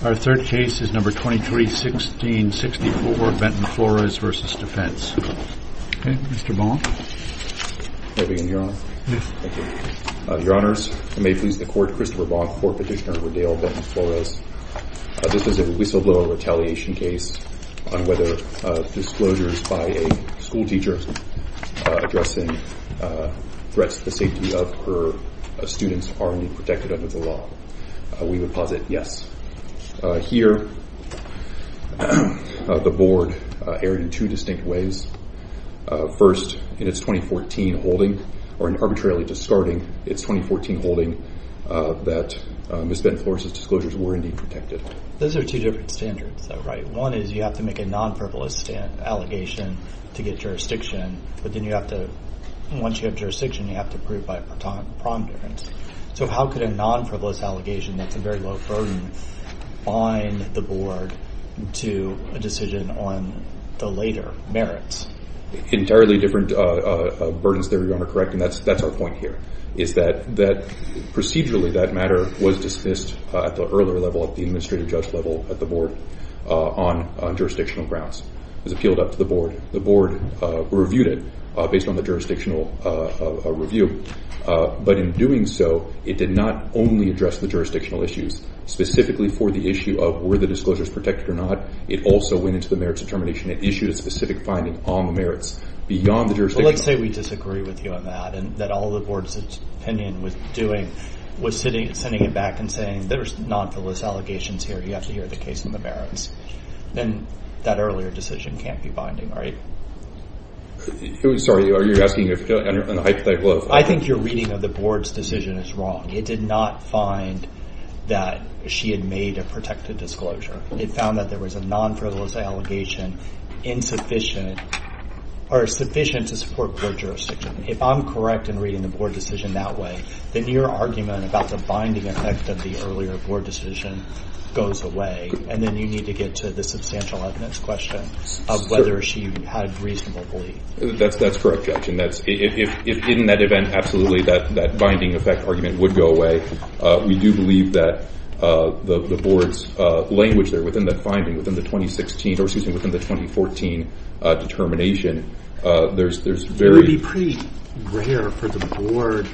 Our third case is number 23-16-64, Benton-Flores v. Defense. Okay, Mr. Bonk. May I begin, Your Honor? Yes. Thank you. Your Honors, I may please the Court. Christopher Bonk, Court Petitioner for Dale Benton-Flores. This is a whistleblower retaliation case on whether disclosures by a schoolteacher addressing threats to the safety of her students are indeed protected under the law. We would posit yes. Here, the Board erred in two distinct ways. First, in its 2014 holding, or in arbitrarily discarding its 2014 holding, that Ms. Benton-Flores' disclosures were indeed protected. Those are two different standards, though, right? One is you have to make a non-frivolous allegation to get jurisdiction, but then you have to, once you have jurisdiction, you have to prove by a prom difference. So how could a non-frivolous allegation that's a very low burden bind the Board to a decision on the later merits? Entirely different burdens there, Your Honor, correct, and that's our point here, is that procedurally that matter was dismissed at the earlier level, at the administrative judge level at the Board, on jurisdictional grounds. It was appealed up to the Board. The Board reviewed it based on the jurisdictional review. But in doing so, it did not only address the jurisdictional issues, specifically for the issue of were the disclosures protected or not. It also went into the merits determination. It issued a specific finding on the merits beyond the jurisdiction. Well, let's say we disagree with you on that, and that all the Board's opinion was doing was sending it back and saying, there's non-frivolous allegations here. You have to hear the case on the merits. Then that earlier decision can't be binding, right? I'm sorry. I think your reading of the Board's decision is wrong. It did not find that she had made a protected disclosure. It found that there was a non-frivolous allegation insufficient or sufficient to support Board jurisdiction. If I'm correct in reading the Board decision that way, then your argument about the binding effect of the earlier Board decision goes away, and then you need to get to the substantial evidence question of whether she had reasonable belief. That's correct, Judge. If in that event, absolutely, that binding effect argument would go away. We do believe that the Board's language there within that finding, within the 2016, or excuse me, within the 2014 determination, there's very It would be pretty rare for the Board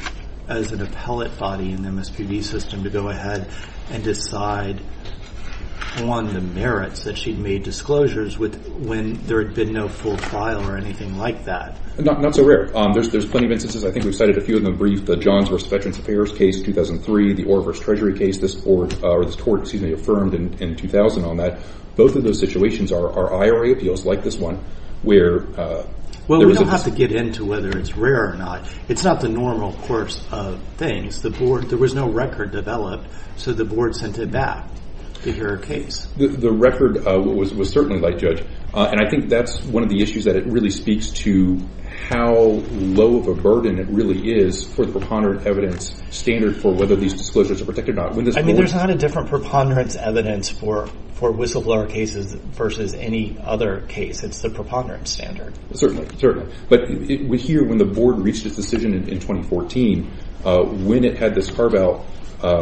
as an appellate body in the MSPB system to go ahead and decide on the merits that she'd made disclosures with when there had been no full trial or anything like that. Not so rare. There's plenty of instances. I think we've cited a few of them brief. The Johns v. Veterans Affairs case in 2003, the Orr v. Treasury case, this Court, excuse me, affirmed in 2000 on that. Both of those situations are IRA appeals like this one where there was a Well, we don't have to get into whether it's rare or not. It's not the normal course of things. There was no record developed, so the Board sent it back to hear a case. The record was certainly light, Judge, and I think that's one of the issues that it really speaks to how low of a burden it really is for the preponderant evidence standard for whether these disclosures are protected or not. I mean, there's not a different preponderance evidence for whistleblower cases versus any other case. It's the preponderance standard. Certainly, certainly. But we hear when the Board reached its decision in 2014, when it had this carve-out,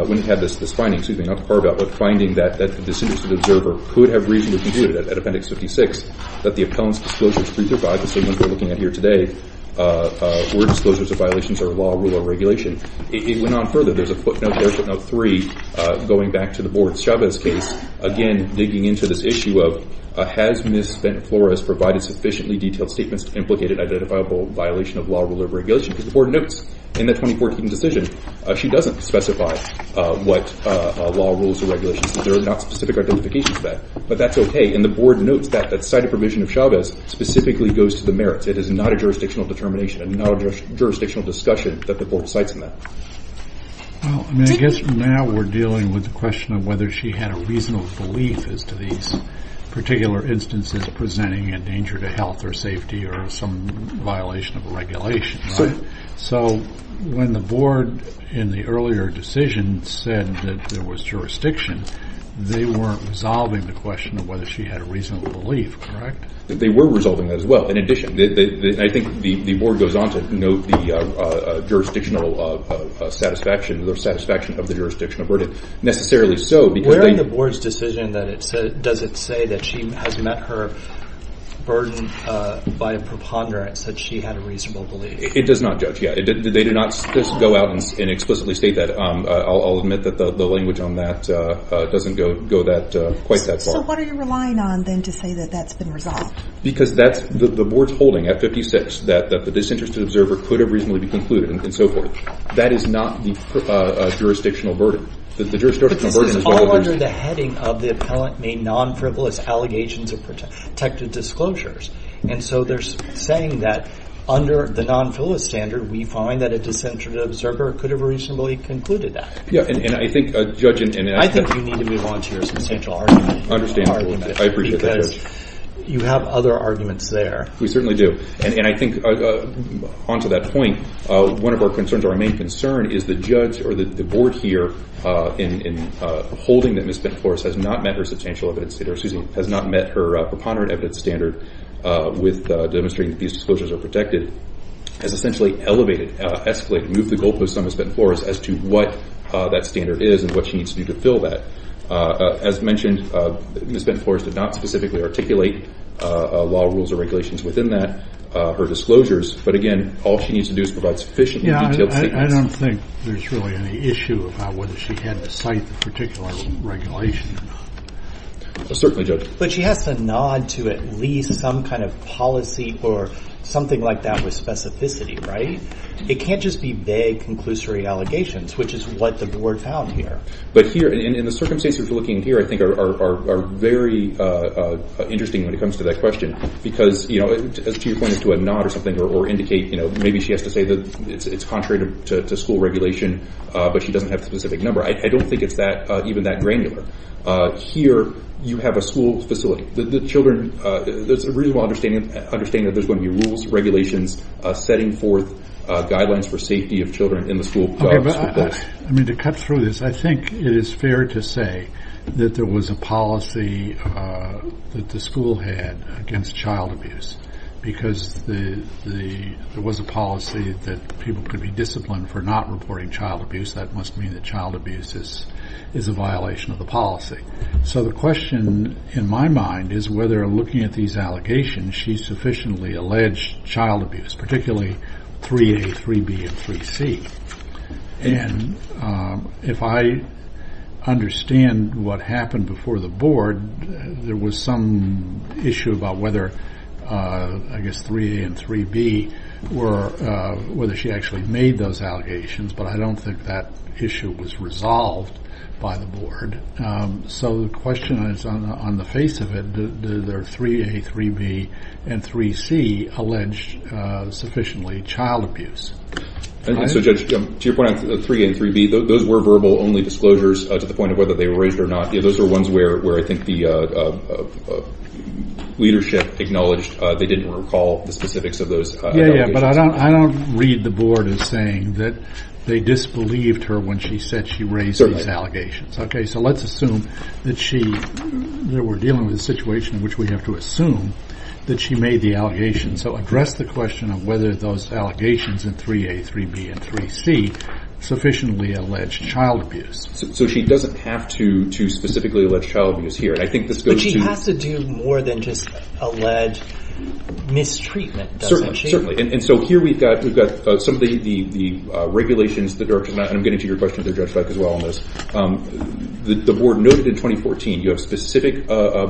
when it had this finding, excuse me, not carve-out, but finding that the disinterested observer could have reasonably concluded at Appendix 56 that the appellant's disclosures 3 through 5, the same ones we're looking at here today, were disclosures of violations of law, rule, or regulation. It went on further. There's a footnote there, footnote 3, going back to the Board's Chavez case, again, digging into this issue of, has Ms. Ben-Flores provided sufficiently detailed statements to implicate an identifiable violation of law, rule, or regulation? Because the Board notes in the 2014 decision she doesn't specify what law, rules, or regulations. There are not specific identifications to that. But that's okay. And the Board notes that the cited provision of Chavez specifically goes to the merits. It is not a jurisdictional determination. It is not a jurisdictional discussion that the Board cites in that. Well, I mean, I guess now we're dealing with the question of whether she had a reasonable belief as to these particular instances presenting a danger to health or safety or some violation of a regulation. So when the Board, in the earlier decision, said that there was jurisdiction, they weren't resolving the question of whether she had a reasonable belief, correct? They were resolving that as well. In addition, I think the Board goes on to note the jurisdictional satisfaction or the satisfaction of the jurisdictional burden. Necessarily so because they— Where in the Board's decision does it say that she has met her burden by a preponderance that she had a reasonable belief? It does not judge yet. They do not go out and explicitly state that. I'll admit that the language on that doesn't go quite that far. So what are you relying on, then, to say that that's been resolved? Because the Board's holding at 56 that the disinterested observer could have reasonably been concluded and so forth. That is not the jurisdictional burden. But this is all under the heading of the appellant made non-frivolous allegations of protected disclosures. And so they're saying that under the non-frivolous standard, we find that a disinterested observer could have reasonably concluded that. Yeah, and I think, Judge— I think you need to move on to your substantial argument. I understand that. I appreciate that, Judge. Because you have other arguments there. We certainly do. And I think, on to that point, one of our concerns, our main concern is the judge or the Board here in holding that Ms. Benflores has not met her substantial evidence standard or, excuse me, has not met her preponderant evidence standard with demonstrating that these disclosures are protected has essentially elevated, escalated, moved the goalposts on Ms. Benflores as to what that standard is and what she needs to do to fill that. As mentioned, Ms. Benflores did not specifically articulate law rules or regulations within that, her disclosures. But, again, all she needs to do is provide sufficiently detailed statements. Yeah, I don't think there's really any issue about whether she had to cite the particular regulation or not. Certainly, Judge. But she has to nod to at least some kind of policy or something like that with specificity, right? It can't just be vague, conclusory allegations, which is what the Board found here. But here, in the circumstances we're looking at here, I think are very interesting when it comes to that question because, you know, to your point as to a nod or something or indicate maybe she has to say that it's contrary to school regulation but she doesn't have the specific number. I don't think it's even that granular. Here, you have a school facility. The children, there's a reasonable understanding that there's going to be rules, regulations, setting forth guidelines for safety of children in the school. I mean, to cut through this, I think it is fair to say that there was a policy that the school had against child abuse because there was a policy that people could be disciplined for not reporting child abuse. That must mean that child abuse is a violation of the policy. So the question in my mind is whether, looking at these allegations, she sufficiently alleged child abuse, particularly 3A, 3B, and 3C. And if I understand what happened before the Board, there was some issue about whether, I guess, 3A and 3B, whether she actually made those allegations, but I don't think that issue was resolved by the Board. So the question is, on the face of it, did their 3A, 3B, and 3C allege sufficiently child abuse? So, Judge, to your point on 3A and 3B, those were verbal-only disclosures to the point of whether they were raised or not. Those were ones where I think the leadership acknowledged they didn't recall the specifics of those allegations. But I don't read the Board as saying that they disbelieved her when she said she raised these allegations. So let's assume that we're dealing with a situation in which we have to assume that she made the allegations. So address the question of whether those allegations in 3A, 3B, and 3C sufficiently alleged child abuse. So she doesn't have to specifically allege child abuse here. But she has to do more than just allege mistreatment, doesn't she? Yes, certainly. And so here we've got some of the regulations. And I'm getting to your question there, Judge Black, as well on this. The Board noted in 2014 you have specific DOD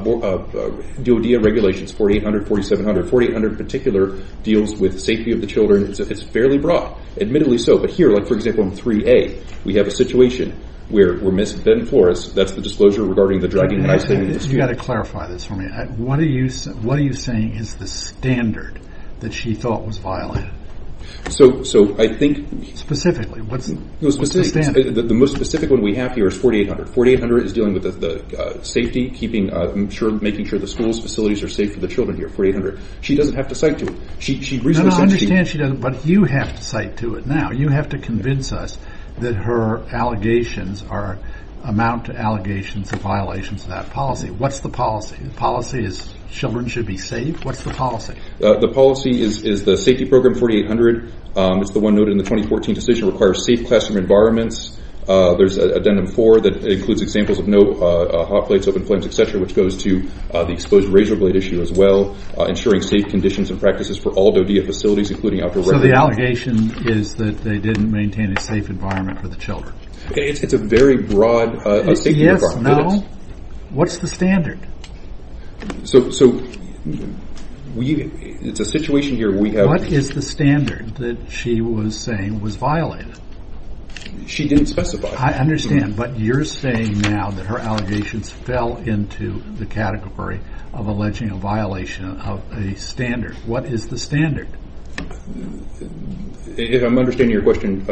regulations, 4800, 4700. 4800 in particular deals with safety of the children. It's fairly broad, admittedly so. But here, like, for example, in 3A, we have a situation where we miss Ben Flores. That's the disclosure regarding the dragging and isolating dispute. You've got to clarify this for me. What are you saying is the standard that she thought was violated? So I think— Specifically, what's the standard? The most specific one we have here is 4800. 4800 is dealing with the safety, making sure the schools, facilities are safe for the children here, 4800. She doesn't have to cite to it. No, no, I understand she doesn't, but you have to cite to it now. You have to convince us that her allegations amount to allegations of violations of that policy. What's the policy? The policy is children should be safe. What's the policy? The policy is the safety program, 4800. It's the one noted in the 2014 decision, requires safe classroom environments. There's addendum 4 that includes examples of no hot plates, open flames, et cetera, which goes to the exposed razor blade issue as well, ensuring safe conditions and practices for all DOD facilities, including outdoor— So the allegation is that they didn't maintain a safe environment for the children. It's a very broad safety requirement. No. What's the standard? So it's a situation here where we have— What is the standard that she was saying was violated? She didn't specify. I understand, but you're saying now that her allegations fell into the category of alleging a violation of a standard. What is the standard? If I'm understanding your question,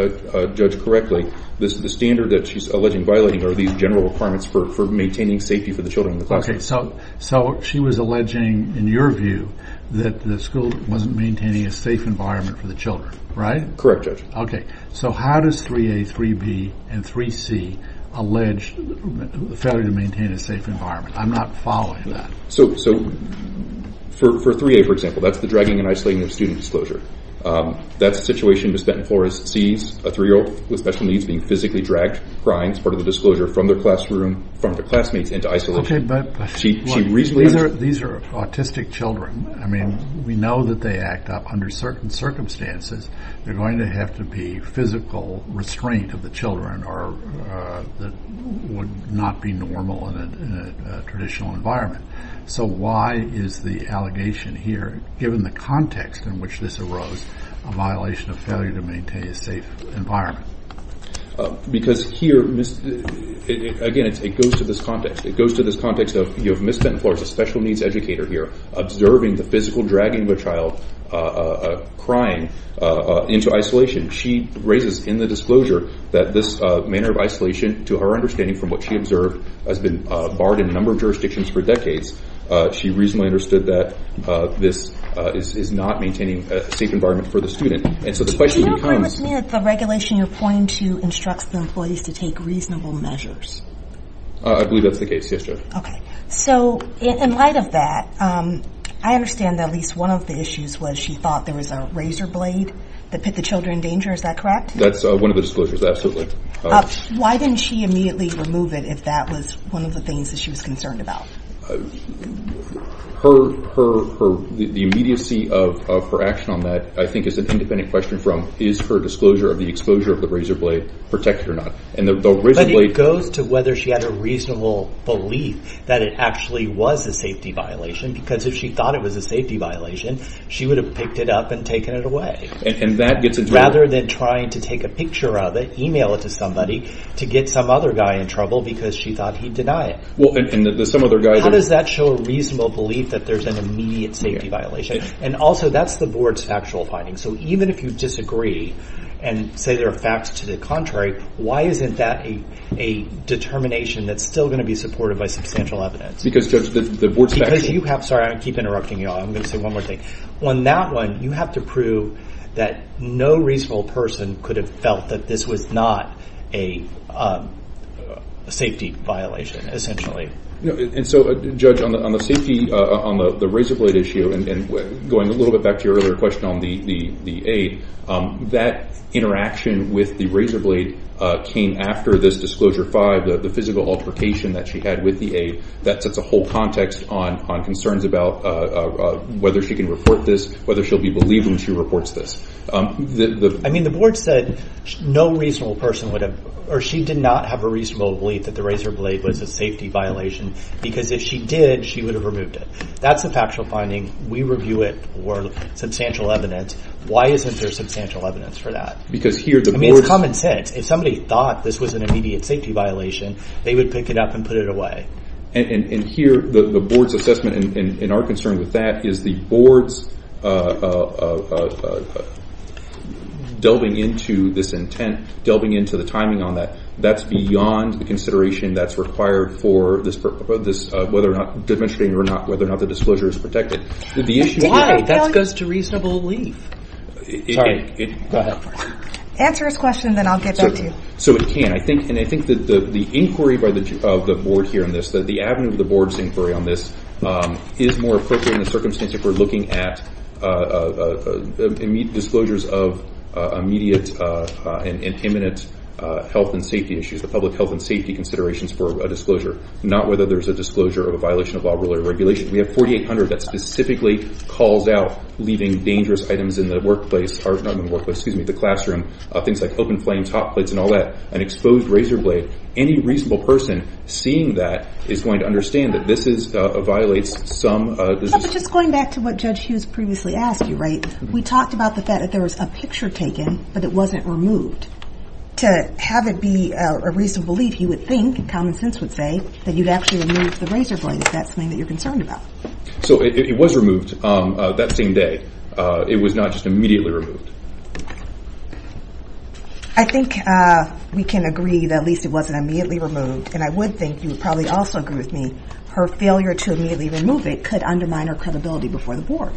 Judge, correctly, the standard that she's alleging violating are these general requirements for maintaining safety for the children in the classroom. Okay, so she was alleging, in your view, that the school wasn't maintaining a safe environment for the children, right? Correct, Judge. Okay. So how does 3A, 3B, and 3C allege the failure to maintain a safe environment? I'm not following that. So for 3A, for example, that's the dragging and isolating of student disclosure. That's a situation Ms. Benton-Flores sees, a 3-year-old with special needs being physically dragged, crying as part of the disclosure, from their classroom, from their classmates, into isolation. Okay, but these are autistic children. I mean, we know that they act up under certain circumstances. They're going to have to be physical restraint of the children that would not be normal in a traditional environment. So why is the allegation here, given the context in which this arose, a violation of failure to maintain a safe environment? Because here, again, it goes to this context. It goes to this context of Ms. Benton-Flores, a special needs educator here, observing the physical dragging of a child crying into isolation. She raises in the disclosure that this manner of isolation, to her understanding from what she observed, has been barred in a number of jurisdictions for decades. She reasonably understood that this is not maintaining a safe environment for the student. Do you agree with me that the regulation you're pointing to instructs the employees to take reasonable measures? I believe that's the case, yes, Jo. Okay. So in light of that, I understand that at least one of the issues was she thought there was a razor blade that put the children in danger. Is that correct? That's one of the disclosures, absolutely. Why didn't she immediately remove it if that was one of the things that she was concerned about? The immediacy of her action on that, I think, is an independent question from is her disclosure of the exposure of the razor blade protected or not? But it goes to whether she had a reasonable belief that it actually was a safety violation, because if she thought it was a safety violation, she would have picked it up and taken it away. Rather than trying to take a picture of it, email it to somebody, to get some other guy in trouble because she thought he'd deny it. How does that show a reasonable belief that there's an immediate safety violation? And also, that's the board's factual finding. So even if you disagree and say there are facts to the contrary, why isn't that a determination that's still going to be supported by substantial evidence? Because the board's factual. Sorry, I keep interrupting you all. I'm going to say one more thing. On that one, you have to prove that no reasonable person could have felt that this was not a safety violation, essentially. And so, Judge, on the safety, on the razor blade issue, and going a little bit back to your earlier question on the aid, that interaction with the razor blade came after this Disclosure 5, the physical altercation that she had with the aid. That sets a whole context on concerns about whether she can report this, whether she'll be believed when she reports this. I mean, the board said no reasonable person would have, or she did not have a reasonable belief that the razor blade was a safety violation because if she did, she would have removed it. That's a factual finding. We review it for substantial evidence. Why isn't there substantial evidence for that? Because here the board's- I mean, it's common sense. If somebody thought this was an immediate safety violation, they would pick it up and put it away. And here the board's assessment, and our concern with that, is the board's delving into this intent, delving into the timing on that. That's beyond the consideration that's required for this, whether or not the disclosure is protected. The issue- That goes to reasonable belief. Sorry. Go ahead. Answer his question, and then I'll get back to you. So it can. And I think that the inquiry of the board here on this, the avenue of the board's inquiry on this, is more appropriate in the circumstance if we're looking at immediate disclosures of immediate and imminent health and safety issues, the public health and safety considerations for a disclosure, not whether there's a disclosure of a violation of law, rule, or regulation. We have 4800 that specifically calls out leaving dangerous items in the workplace- not in the workplace, excuse me, the classroom, things like open flame top plates and all that, an exposed razor blade. Any reasonable person seeing that is going to understand that this violates some- Yeah, but just going back to what Judge Hughes previously asked you, right? We talked about the fact that there was a picture taken, but it wasn't removed. To have it be a reasonable belief, you would think, and common sense would say, that you'd actually remove the razor blade. Is that something that you're concerned about? So it was removed that same day. It was not just immediately removed. I think we can agree that at least it wasn't immediately removed, and I would think you would probably also agree with me, her failure to immediately remove it could undermine her credibility before the board.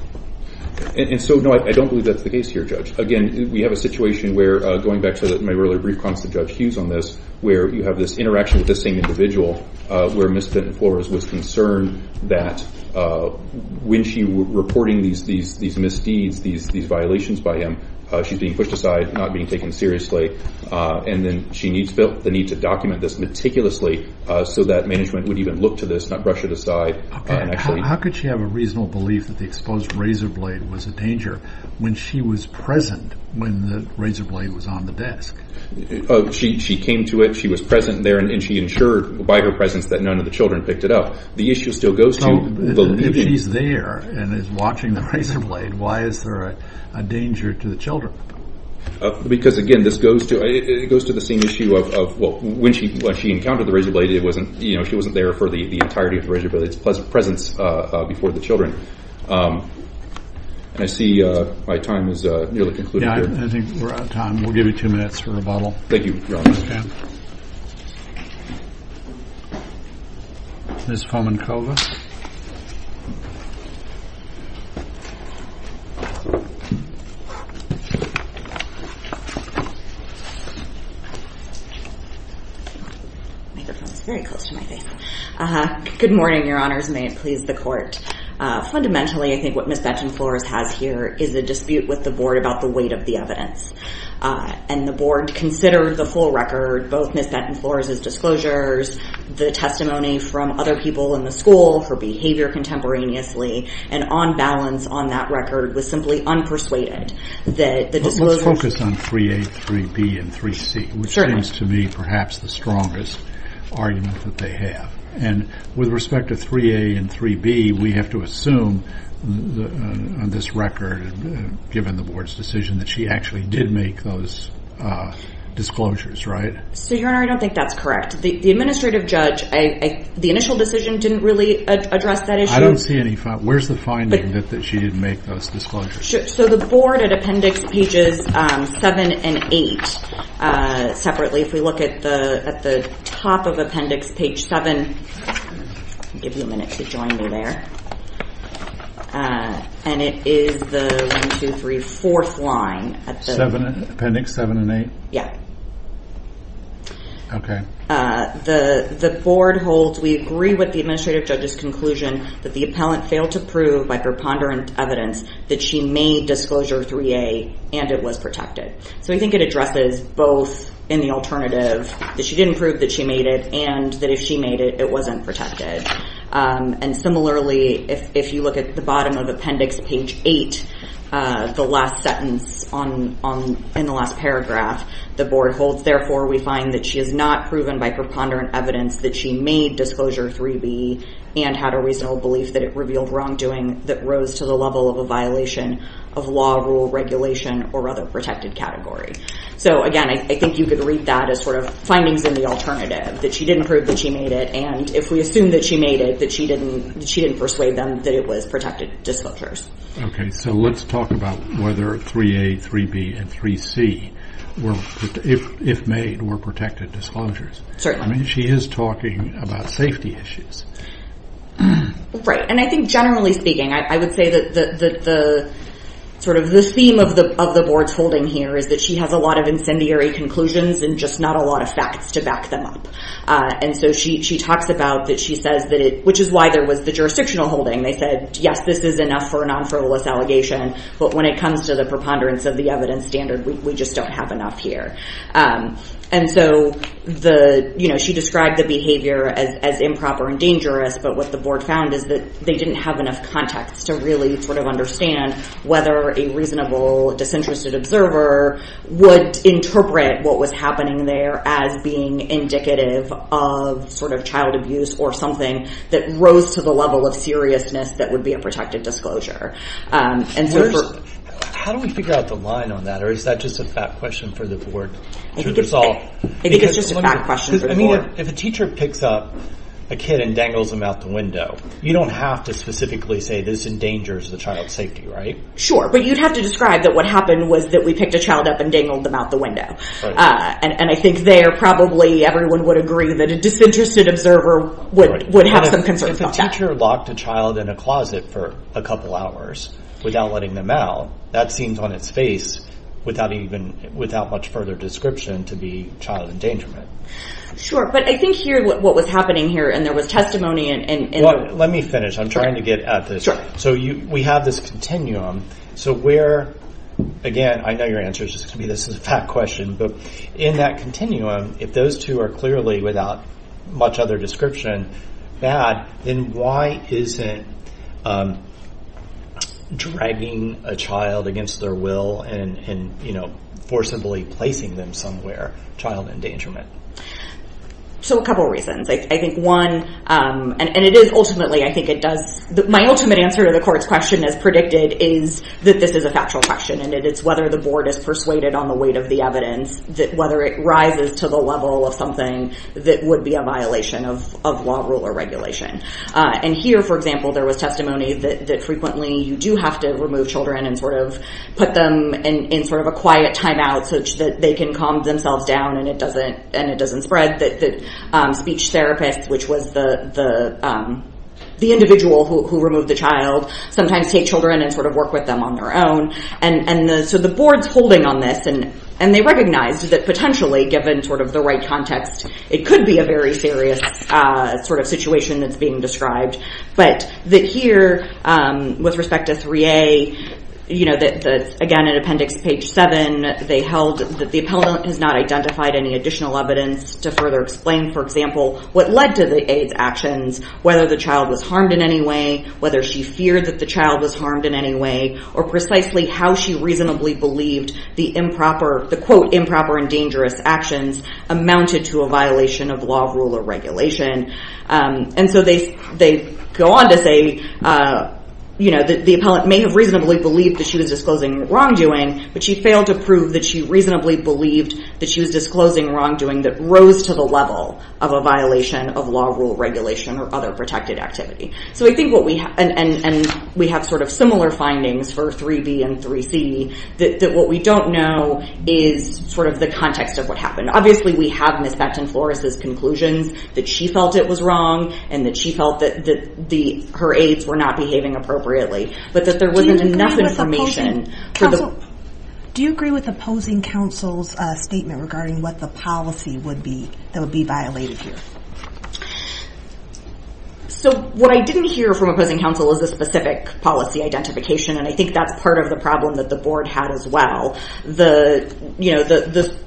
And so, no, I don't believe that's the case here, Judge. Again, we have a situation where, going back to my earlier brief comments to Judge Hughes on this, where you have this interaction with this same individual, where Ms. Benton-Flores was concerned that when she was reporting these misdeeds, these violations by him, she's being pushed aside, not being taken seriously, and then she needs the need to document this meticulously so that management would even look to this, not brush it aside. How could she have a reasonable belief that the exposed razor blade was a danger when she was present when the razor blade was on the desk? She came to it, she was present there, and she ensured by her presence that none of the children picked it up. The issue still goes to the- If he's there and is watching the razor blade, why is there a danger to the children? Because, again, this goes to the same issue of when she encountered the razor blade, she wasn't there for the entirety of the razor blade's presence before the children. And I see my time has nearly concluded here. Yeah, I think we're out of time. We'll give you two minutes for rebuttal. Thank you, Your Honor. Ms. Fomenkova. Microphone's very close to my face. Good morning, Your Honors, and may it please the Court. Fundamentally, I think what Ms. Benton-Flores has here is a dispute with the Board about the weight of the evidence. And the Board considered the full record, both Ms. Benton-Flores' disclosures, the testimony from other people in the school, her behavior contemporaneously, and on balance on that record was simply unpersuaded. Let's focus on 3A, 3B, and 3C, which seems to me perhaps the strongest argument that they have. And with respect to 3A and 3B, we have to assume on this record, given the Board's decision, that she actually did make those disclosures, right? So, Your Honor, I don't think that's correct. The Administrative Judge, the initial decision didn't really address that issue. I don't see any. Where's the finding that she didn't make those disclosures? So the Board at Appendix Pages 7 and 8 separately, if we look at the top of Appendix Page 7, I'll give you a minute to join me there, and it is the 1, 2, 3, 4th line. Appendix 7 and 8? Yeah. Okay. The Board holds we agree with the Administrative Judge's conclusion that the appellant failed to prove by preponderant evidence that she made Disclosure 3A and it was protected. So we think it addresses both in the alternative that she didn't prove that she made it and that if she made it, it wasn't protected. And similarly, if you look at the bottom of Appendix Page 8, the last sentence in the last paragraph, the Board holds, therefore, we find that she has not proven by preponderant evidence that she made Disclosure 3B and had a reasonable belief that it revealed wrongdoing that rose to the level of a violation of law, rule, regulation, or other protected category. So again, I think you could read that as sort of findings in the alternative, that she didn't prove that she made it, and if we assume that she made it, that she didn't persuade them that it was protected disclosures. Okay. So let's talk about whether 3A, 3B, and 3C, if made, were protected disclosures. Certainly. I mean, she is talking about safety issues. Right. And I think generally speaking, I would say that sort of the theme of the Board's holding here is that she has a lot of incendiary conclusions and just not a lot of facts to back them up. And so she talks about that she says that it, which is why there was the jurisdictional holding. They said, yes, this is enough for a non-fraudless allegation, but when it comes to the preponderance of the evidence standard, we just don't have enough here. And so she described the behavior as improper and dangerous, but what the Board found is that they didn't have enough context to really sort of understand whether a reasonable disinterested observer would interpret what was happening there as being indicative of sort of child abuse or something that rose to the level of seriousness that would be a protected disclosure. How do we figure out the line on that? Or is that just a fact question for the Board to resolve? I think it's just a fact question for the Board. I mean, if a teacher picks up a kid and dangles him out the window, you don't have to specifically say this endangers the child's safety, right? Sure. But you'd have to describe that what happened was that we picked a child up and dangled them out the window. And I think there probably everyone would agree that a disinterested observer would have some concerns about that. If a teacher locked a child in a closet for a couple hours without letting them out, that seems on its face without much further description to be child endangerment. Sure, but I think here what was happening here, and there was testimony in the- Well, let me finish. I'm trying to get at this. Sure. So we have this continuum. So where, again, I know your answer is just going to be this is a fact question, but in that continuum, if those two are clearly, without much other description, bad, then why isn't dragging a child against their will and forcibly placing them somewhere child endangerment? So a couple reasons. I think one, and it is ultimately, I think it does- My ultimate answer to the court's question as predicted is that this is a factual question, and it's whether the board is persuaded on the weight of the evidence, whether it rises to the level of something that would be a violation of law, rule, or regulation. And here, for example, there was testimony that frequently you do have to remove children and sort of put them in sort of a quiet timeout so that they can calm themselves down and it doesn't spread. The speech therapist, which was the individual who removed the child, sometimes take children and sort of work with them on their own. And so the board's holding on this, and they recognized that potentially, given sort of the right context, it could be a very serious sort of situation that's being described. But that here, with respect to 3A, again, in appendix page 7, they held that the appellant has not identified any additional evidence to further explain, for example, what led to the aid's actions, whether the child was harmed in any way, whether she feared that the child was harmed in any way, or precisely how she reasonably believed the, quote, improper and dangerous actions amounted to a violation of law, rule, or regulation. And so they go on to say that the appellant may have reasonably believed that she was disclosing wrongdoing, but she failed to prove that she reasonably believed that she was disclosing wrongdoing that rose to the level of a violation of law, rule, regulation, or other protected activity. And we have sort of similar findings for 3B and 3C, that what we don't know is sort of the context of what happened. Obviously, we have Ms. Becton-Flores' conclusions that she felt it was wrong, and that she felt that her aides were not behaving appropriately, but that there wasn't enough information for the... Do you agree with opposing counsel's statement regarding what the policy would be that would be violated here? So what I didn't hear from opposing counsel is a specific policy identification, and I think that's part of the problem that the board had as well. The, you know, the...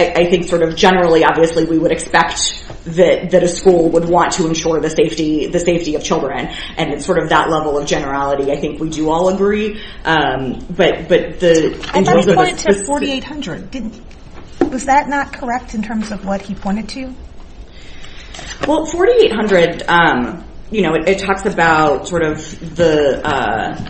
I think sort of generally, obviously, we would expect that a school would want to ensure the safety of children, and it's sort of that level of generality. I think we do all agree, but the... And that was pointed to 4,800. Was that not correct in terms of what he pointed to? Well, 4,800, you know, it talks about sort of the...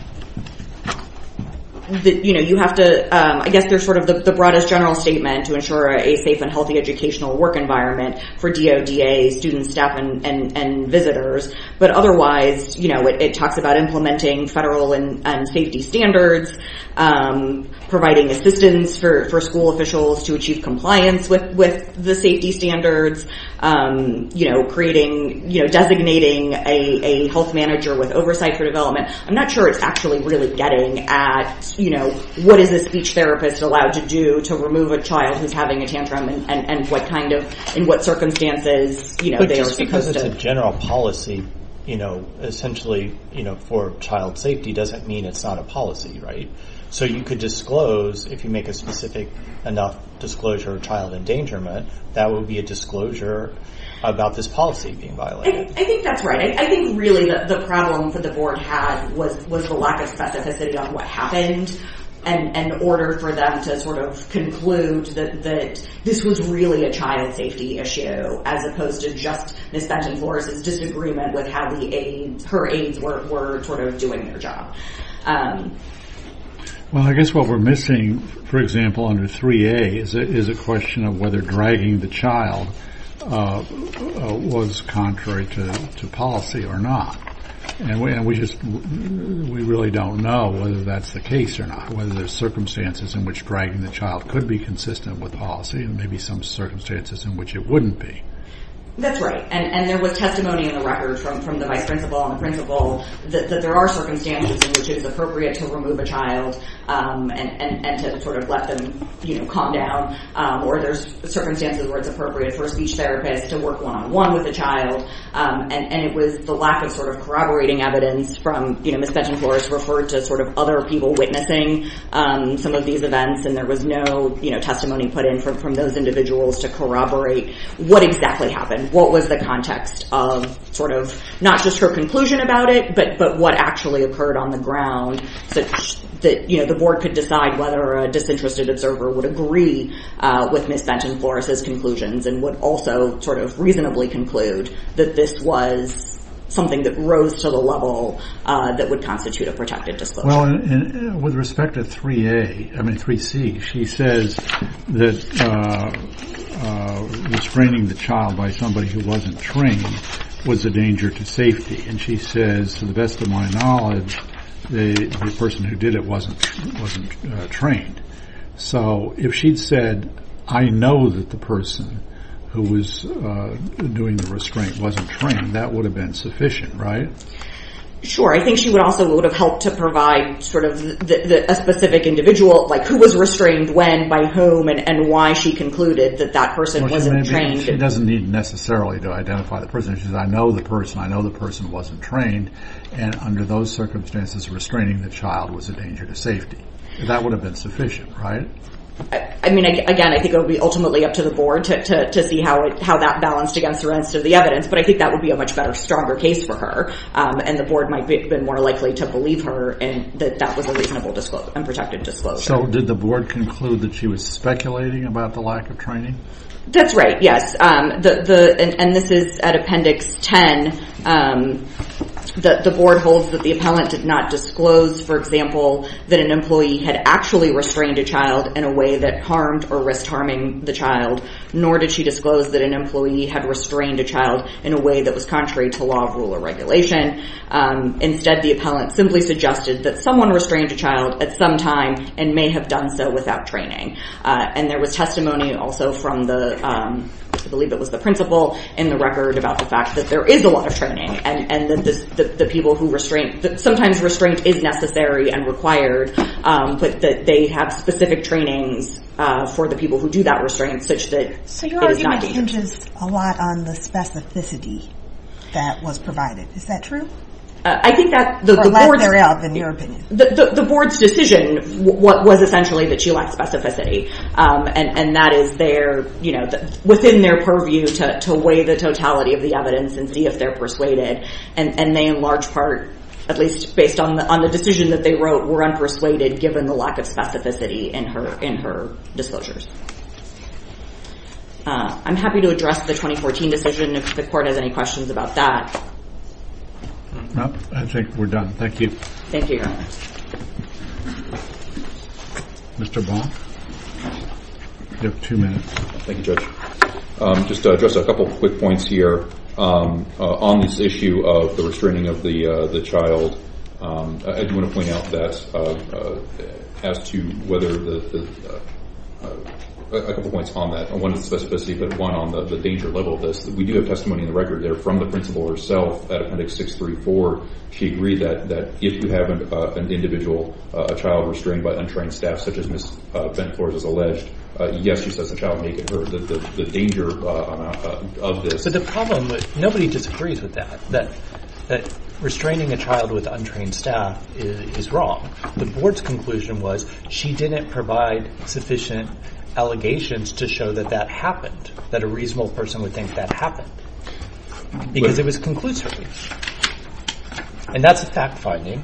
You know, you have to... I guess there's sort of the broadest general statement to ensure a safe and healthy educational work environment for DODA students, staff, and visitors, but otherwise, you know, it talks about implementing federal and safety standards, providing assistance for school officials to achieve compliance with the safety standards, you know, creating... You know, designating a health manager with oversight for development. I'm not sure it's actually really getting at, you know, what is a speech therapist allowed to do to remove a child who's having a tantrum and what kind of... In what circumstances, you know, they are supposed to... You know, essentially, you know, for child safety doesn't mean it's not a policy, right? So you could disclose, if you make a specific enough disclosure of child endangerment, that would be a disclosure about this policy being violated. I think that's right. I think, really, the problem that the board had was the lack of specificity on what happened in order for them to sort of conclude that this was really a child safety issue as opposed to just Ms. Benton-Flores's disagreement with how her aides were sort of doing their job. Well, I guess what we're missing, for example, under 3A, is a question of whether dragging the child was contrary to policy or not. And we just... We really don't know whether that's the case or not, whether there's circumstances in which dragging the child could be consistent with policy and maybe some circumstances in which it wouldn't be. That's right. And there was testimony in the record from the vice principal and the principal that there are circumstances in which it's appropriate to remove a child and to sort of let them calm down, or there's circumstances where it's appropriate for a speech therapist to work one-on-one with a child, and it was the lack of sort of corroborating evidence from... You know, Ms. Benton-Flores referred to sort of other people witnessing some of these events, and there was no testimony put in from those individuals to corroborate what exactly happened, and what was the context of sort of not just her conclusion about it, but what actually occurred on the ground, such that, you know, the board could decide whether a disinterested observer would agree with Ms. Benton-Flores's conclusions and would also sort of reasonably conclude that this was something that rose to the level that would constitute a protected disclosure. Well, with respect to 3A... I mean, 3C, she says that restraining the child by somebody who wasn't trained was a danger to safety, and she says, to the best of my knowledge, the person who did it wasn't trained. So if she'd said, I know that the person who was doing the restraint wasn't trained, that would have been sufficient, right? Sure. I think she also would have helped to provide sort of a specific individual, like, who was restrained when, by whom, and why she concluded that that person wasn't trained. She doesn't need necessarily to identify the person. She says, I know the person, I know the person wasn't trained, and under those circumstances, restraining the child was a danger to safety. That would have been sufficient, right? I mean, again, I think it would be ultimately up to the board to see how that balanced against the rest of the evidence, but I think that would be a much better, stronger case for her, and the board might have been more likely to believe her and that that was a reasonable and protected disclosure. So did the board conclude that she was speculating about the lack of training? That's right, yes. And this is at Appendix 10. The board holds that the appellant did not disclose, for example, that an employee had actually restrained a child in a way that harmed or risked harming the child, nor did she disclose that an employee had restrained a child in a way that was contrary to law, rule, or regulation. Instead, the appellant simply suggested that someone restrained a child at some time and may have done so without training. And there was testimony also from the... I believe it was the principal in the record about the fact that there is a lot of training and that sometimes restraint is necessary and required, but that they have specific trainings for the people who do that restraint such that it is not... So your argument hinges a lot on the specificity that was provided. Is that true? I think that the board's... Or let her out, in your opinion. The board's decision was essentially that she lacked specificity, and that is within their purview to weigh the totality of the evidence and see if they're persuaded, and they in large part, at least based on the decision that they wrote, were unpersuaded given the lack of specificity in her disclosures. I'm happy to address the 2014 decision if the court has any questions about that. I think we're done. Thank you. Thank you, Your Honor. Mr. Baum? You have two minutes. Thank you, Judge. Just to address a couple quick points here. On this issue of the restraining of the child, I do want to point out that as to whether the... A couple points on that. One is specificity, but one on the danger level of this, we do have testimony in the record there from the principal herself at Appendix 634. She agreed that if you have an individual child restrained by untrained staff, such as Ms. Ben-Porres has alleged, yes, she says the child may get hurt. The danger of this... So the problem, nobody disagrees with that, that restraining a child with untrained staff is wrong. The board's conclusion was she didn't provide sufficient allegations to show that that happened, that a reasonable person would think that happened, because it was conclusive. And that's a fact-finding,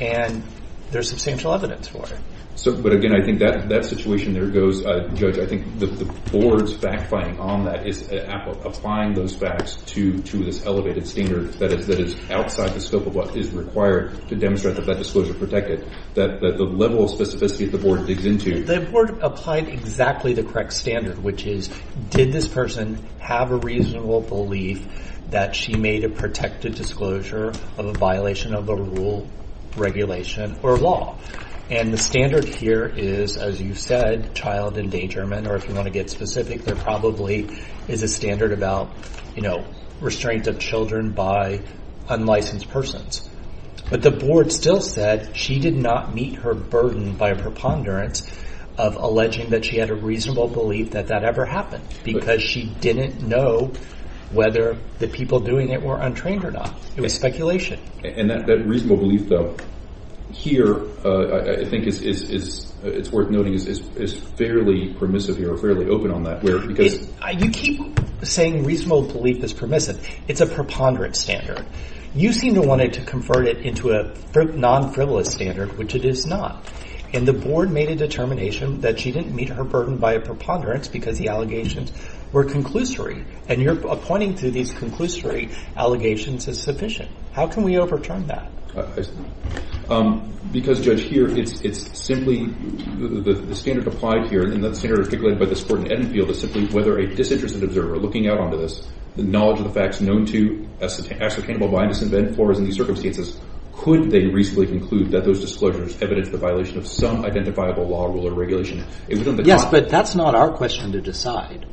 and there's substantial evidence for it. But again, I think that situation there goes... Judge, I think the board's fact-finding on that is applying those facts to this elevated standard that is outside the scope of what is required to demonstrate that that disclosure protected. The level of specificity that the board digs into... The board applied exactly the correct standard, which is, did this person have a reasonable belief that she made a protected disclosure of a violation of the rule, regulation, or law? And the standard here is, as you said, child endangerment, or if you want to get specific, there probably is a standard about, you know, restraint of children by unlicensed persons. But the board still said she did not meet her burden by a preponderance of alleging that she had a reasonable belief that that ever happened, because she didn't know whether the people doing it were untrained or not. It was speculation. And that reasonable belief, though, here, I think it's worth noting, is fairly permissive here, or fairly open on that. You keep saying reasonable belief is permissive. It's a preponderance standard. You seem to want to convert it into a non-frivolous standard, which it is not. And the board made a determination that she didn't meet her burden by a preponderance, because the allegations were conclusory. And you're pointing to these conclusory allegations as sufficient. How can we overturn that? Because, Judge, here it's simply the standard applied here, and the standard articulated by this court in Edenfield is simply whether a disinterested observer, looking out onto this, the knowledge of the facts known to, ascertainable by, and disinvent for, is in these circumstances, could they reasonably conclude that those disclosures evidence the violation of some identifiable law, rule, or regulation? Yes, but that's not our question to decide.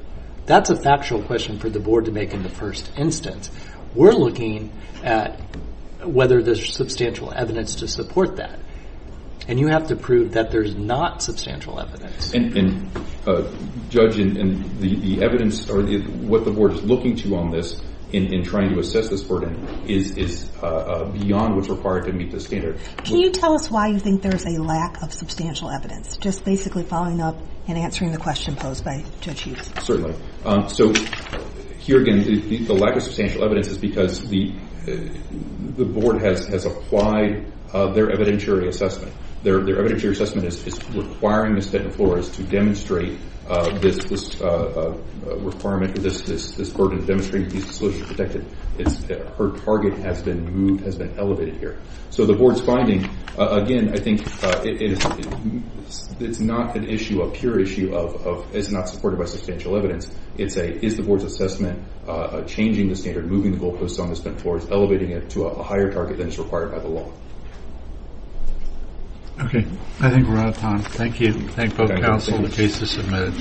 That's a factual question for the board to make in the first instance. We're looking at whether there's substantial evidence to support that. And you have to prove that there's not substantial evidence. And, Judge, what the board is looking to on this in trying to assess this burden is beyond what's required to meet the standard. Can you tell us why you think there's a lack of substantial evidence? Just basically following up and answering the question posed by Judge Hughes. Certainly. So, here again, the lack of substantial evidence is because the board has applied their evidentiary assessment. Their evidentiary assessment is requiring Ms. Dettin-Flores to demonstrate this requirement, this burden of demonstrating these disclosures protected. Her target has been moved, has been elevated here. So the board's finding, again, I think it's not an issue, a pure issue of it's not supported by substantial evidence. It's a, is the board's assessment changing the standard, moving the goalposts on Ms. Dettin-Flores, elevating it to a higher target than is required by the law? Okay. I think we're out of time. Thank you. Thank both counsel and the cases submitted.